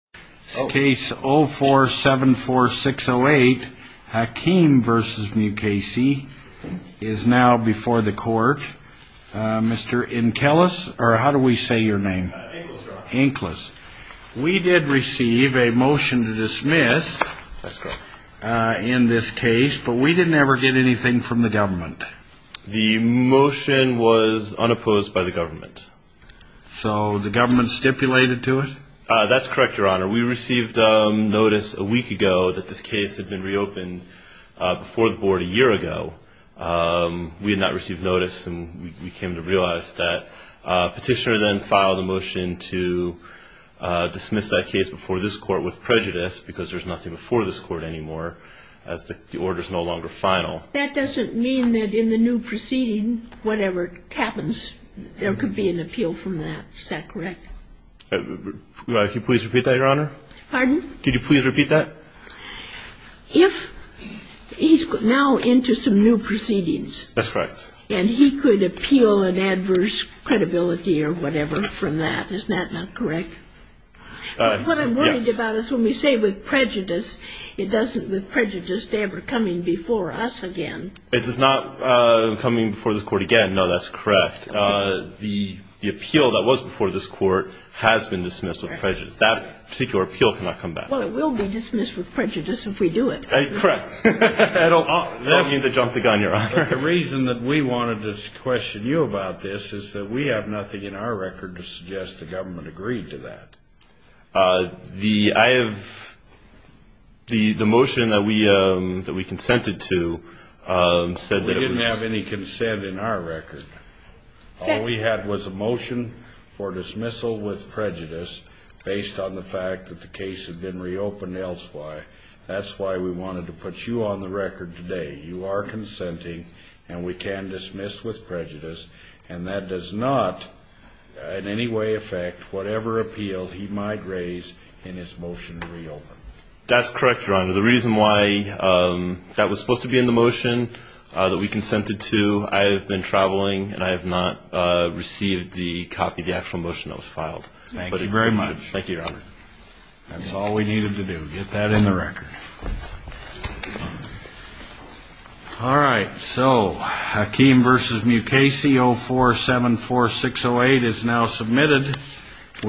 Case 0474608 Hakim v. Mukasey is now before the court. Mr. Inkelis, or how do we say your name? Inkelis. We did receive a motion to dismiss in this case, but we didn't ever get anything from the government. The motion was unopposed by the government. So the government stipulated to it? That's correct, Your Honor. We received notice a week ago that this case had been reopened before the board a year ago. We had not received notice and we came to realize that. Petitioner then filed a motion to dismiss that case before this court with prejudice because there's nothing before this court anymore as the order is no longer final. That doesn't mean that in the new proceeding, whatever happens, there could be an appeal from that. Is that correct? Could you please repeat that, Your Honor? Pardon? Could you please repeat that? If he's now into some new proceedings. That's correct. And he could appeal an adverse credibility or whatever from that. Is that not correct? Yes. What I'm worried about is when we say with prejudice, it doesn't with prejudice to ever coming before us again. It's not coming before this court again. No, that's correct. The appeal that was before this court has been dismissed with prejudice. That particular appeal cannot come back. Well, it will be dismissed with prejudice if we do it. Correct. I don't mean to jump the gun, Your Honor. The reason that we wanted to question you about this is that we have nothing in our record to suggest the government agreed to that. The motion that we consented to said that we didn't have any consent in our record. All we had was a motion for dismissal with prejudice based on the fact that the case had been reopened elsewhere. That's why we wanted to put you on the record today. You are consenting and we can dismiss with prejudice. And that does not in any way affect whatever appeal he might raise in his motion to reopen. That's correct, Your Honor. The reason why that was supposed to be in the motion that we consented to, I have been traveling and I have not received the copy of the actual motion that was filed. Thank you very much. Thank you, Your Honor. That's all we needed to do. Get that in the record. All right. So, Hakeem v. Mukasey, 0474608 is now submitted.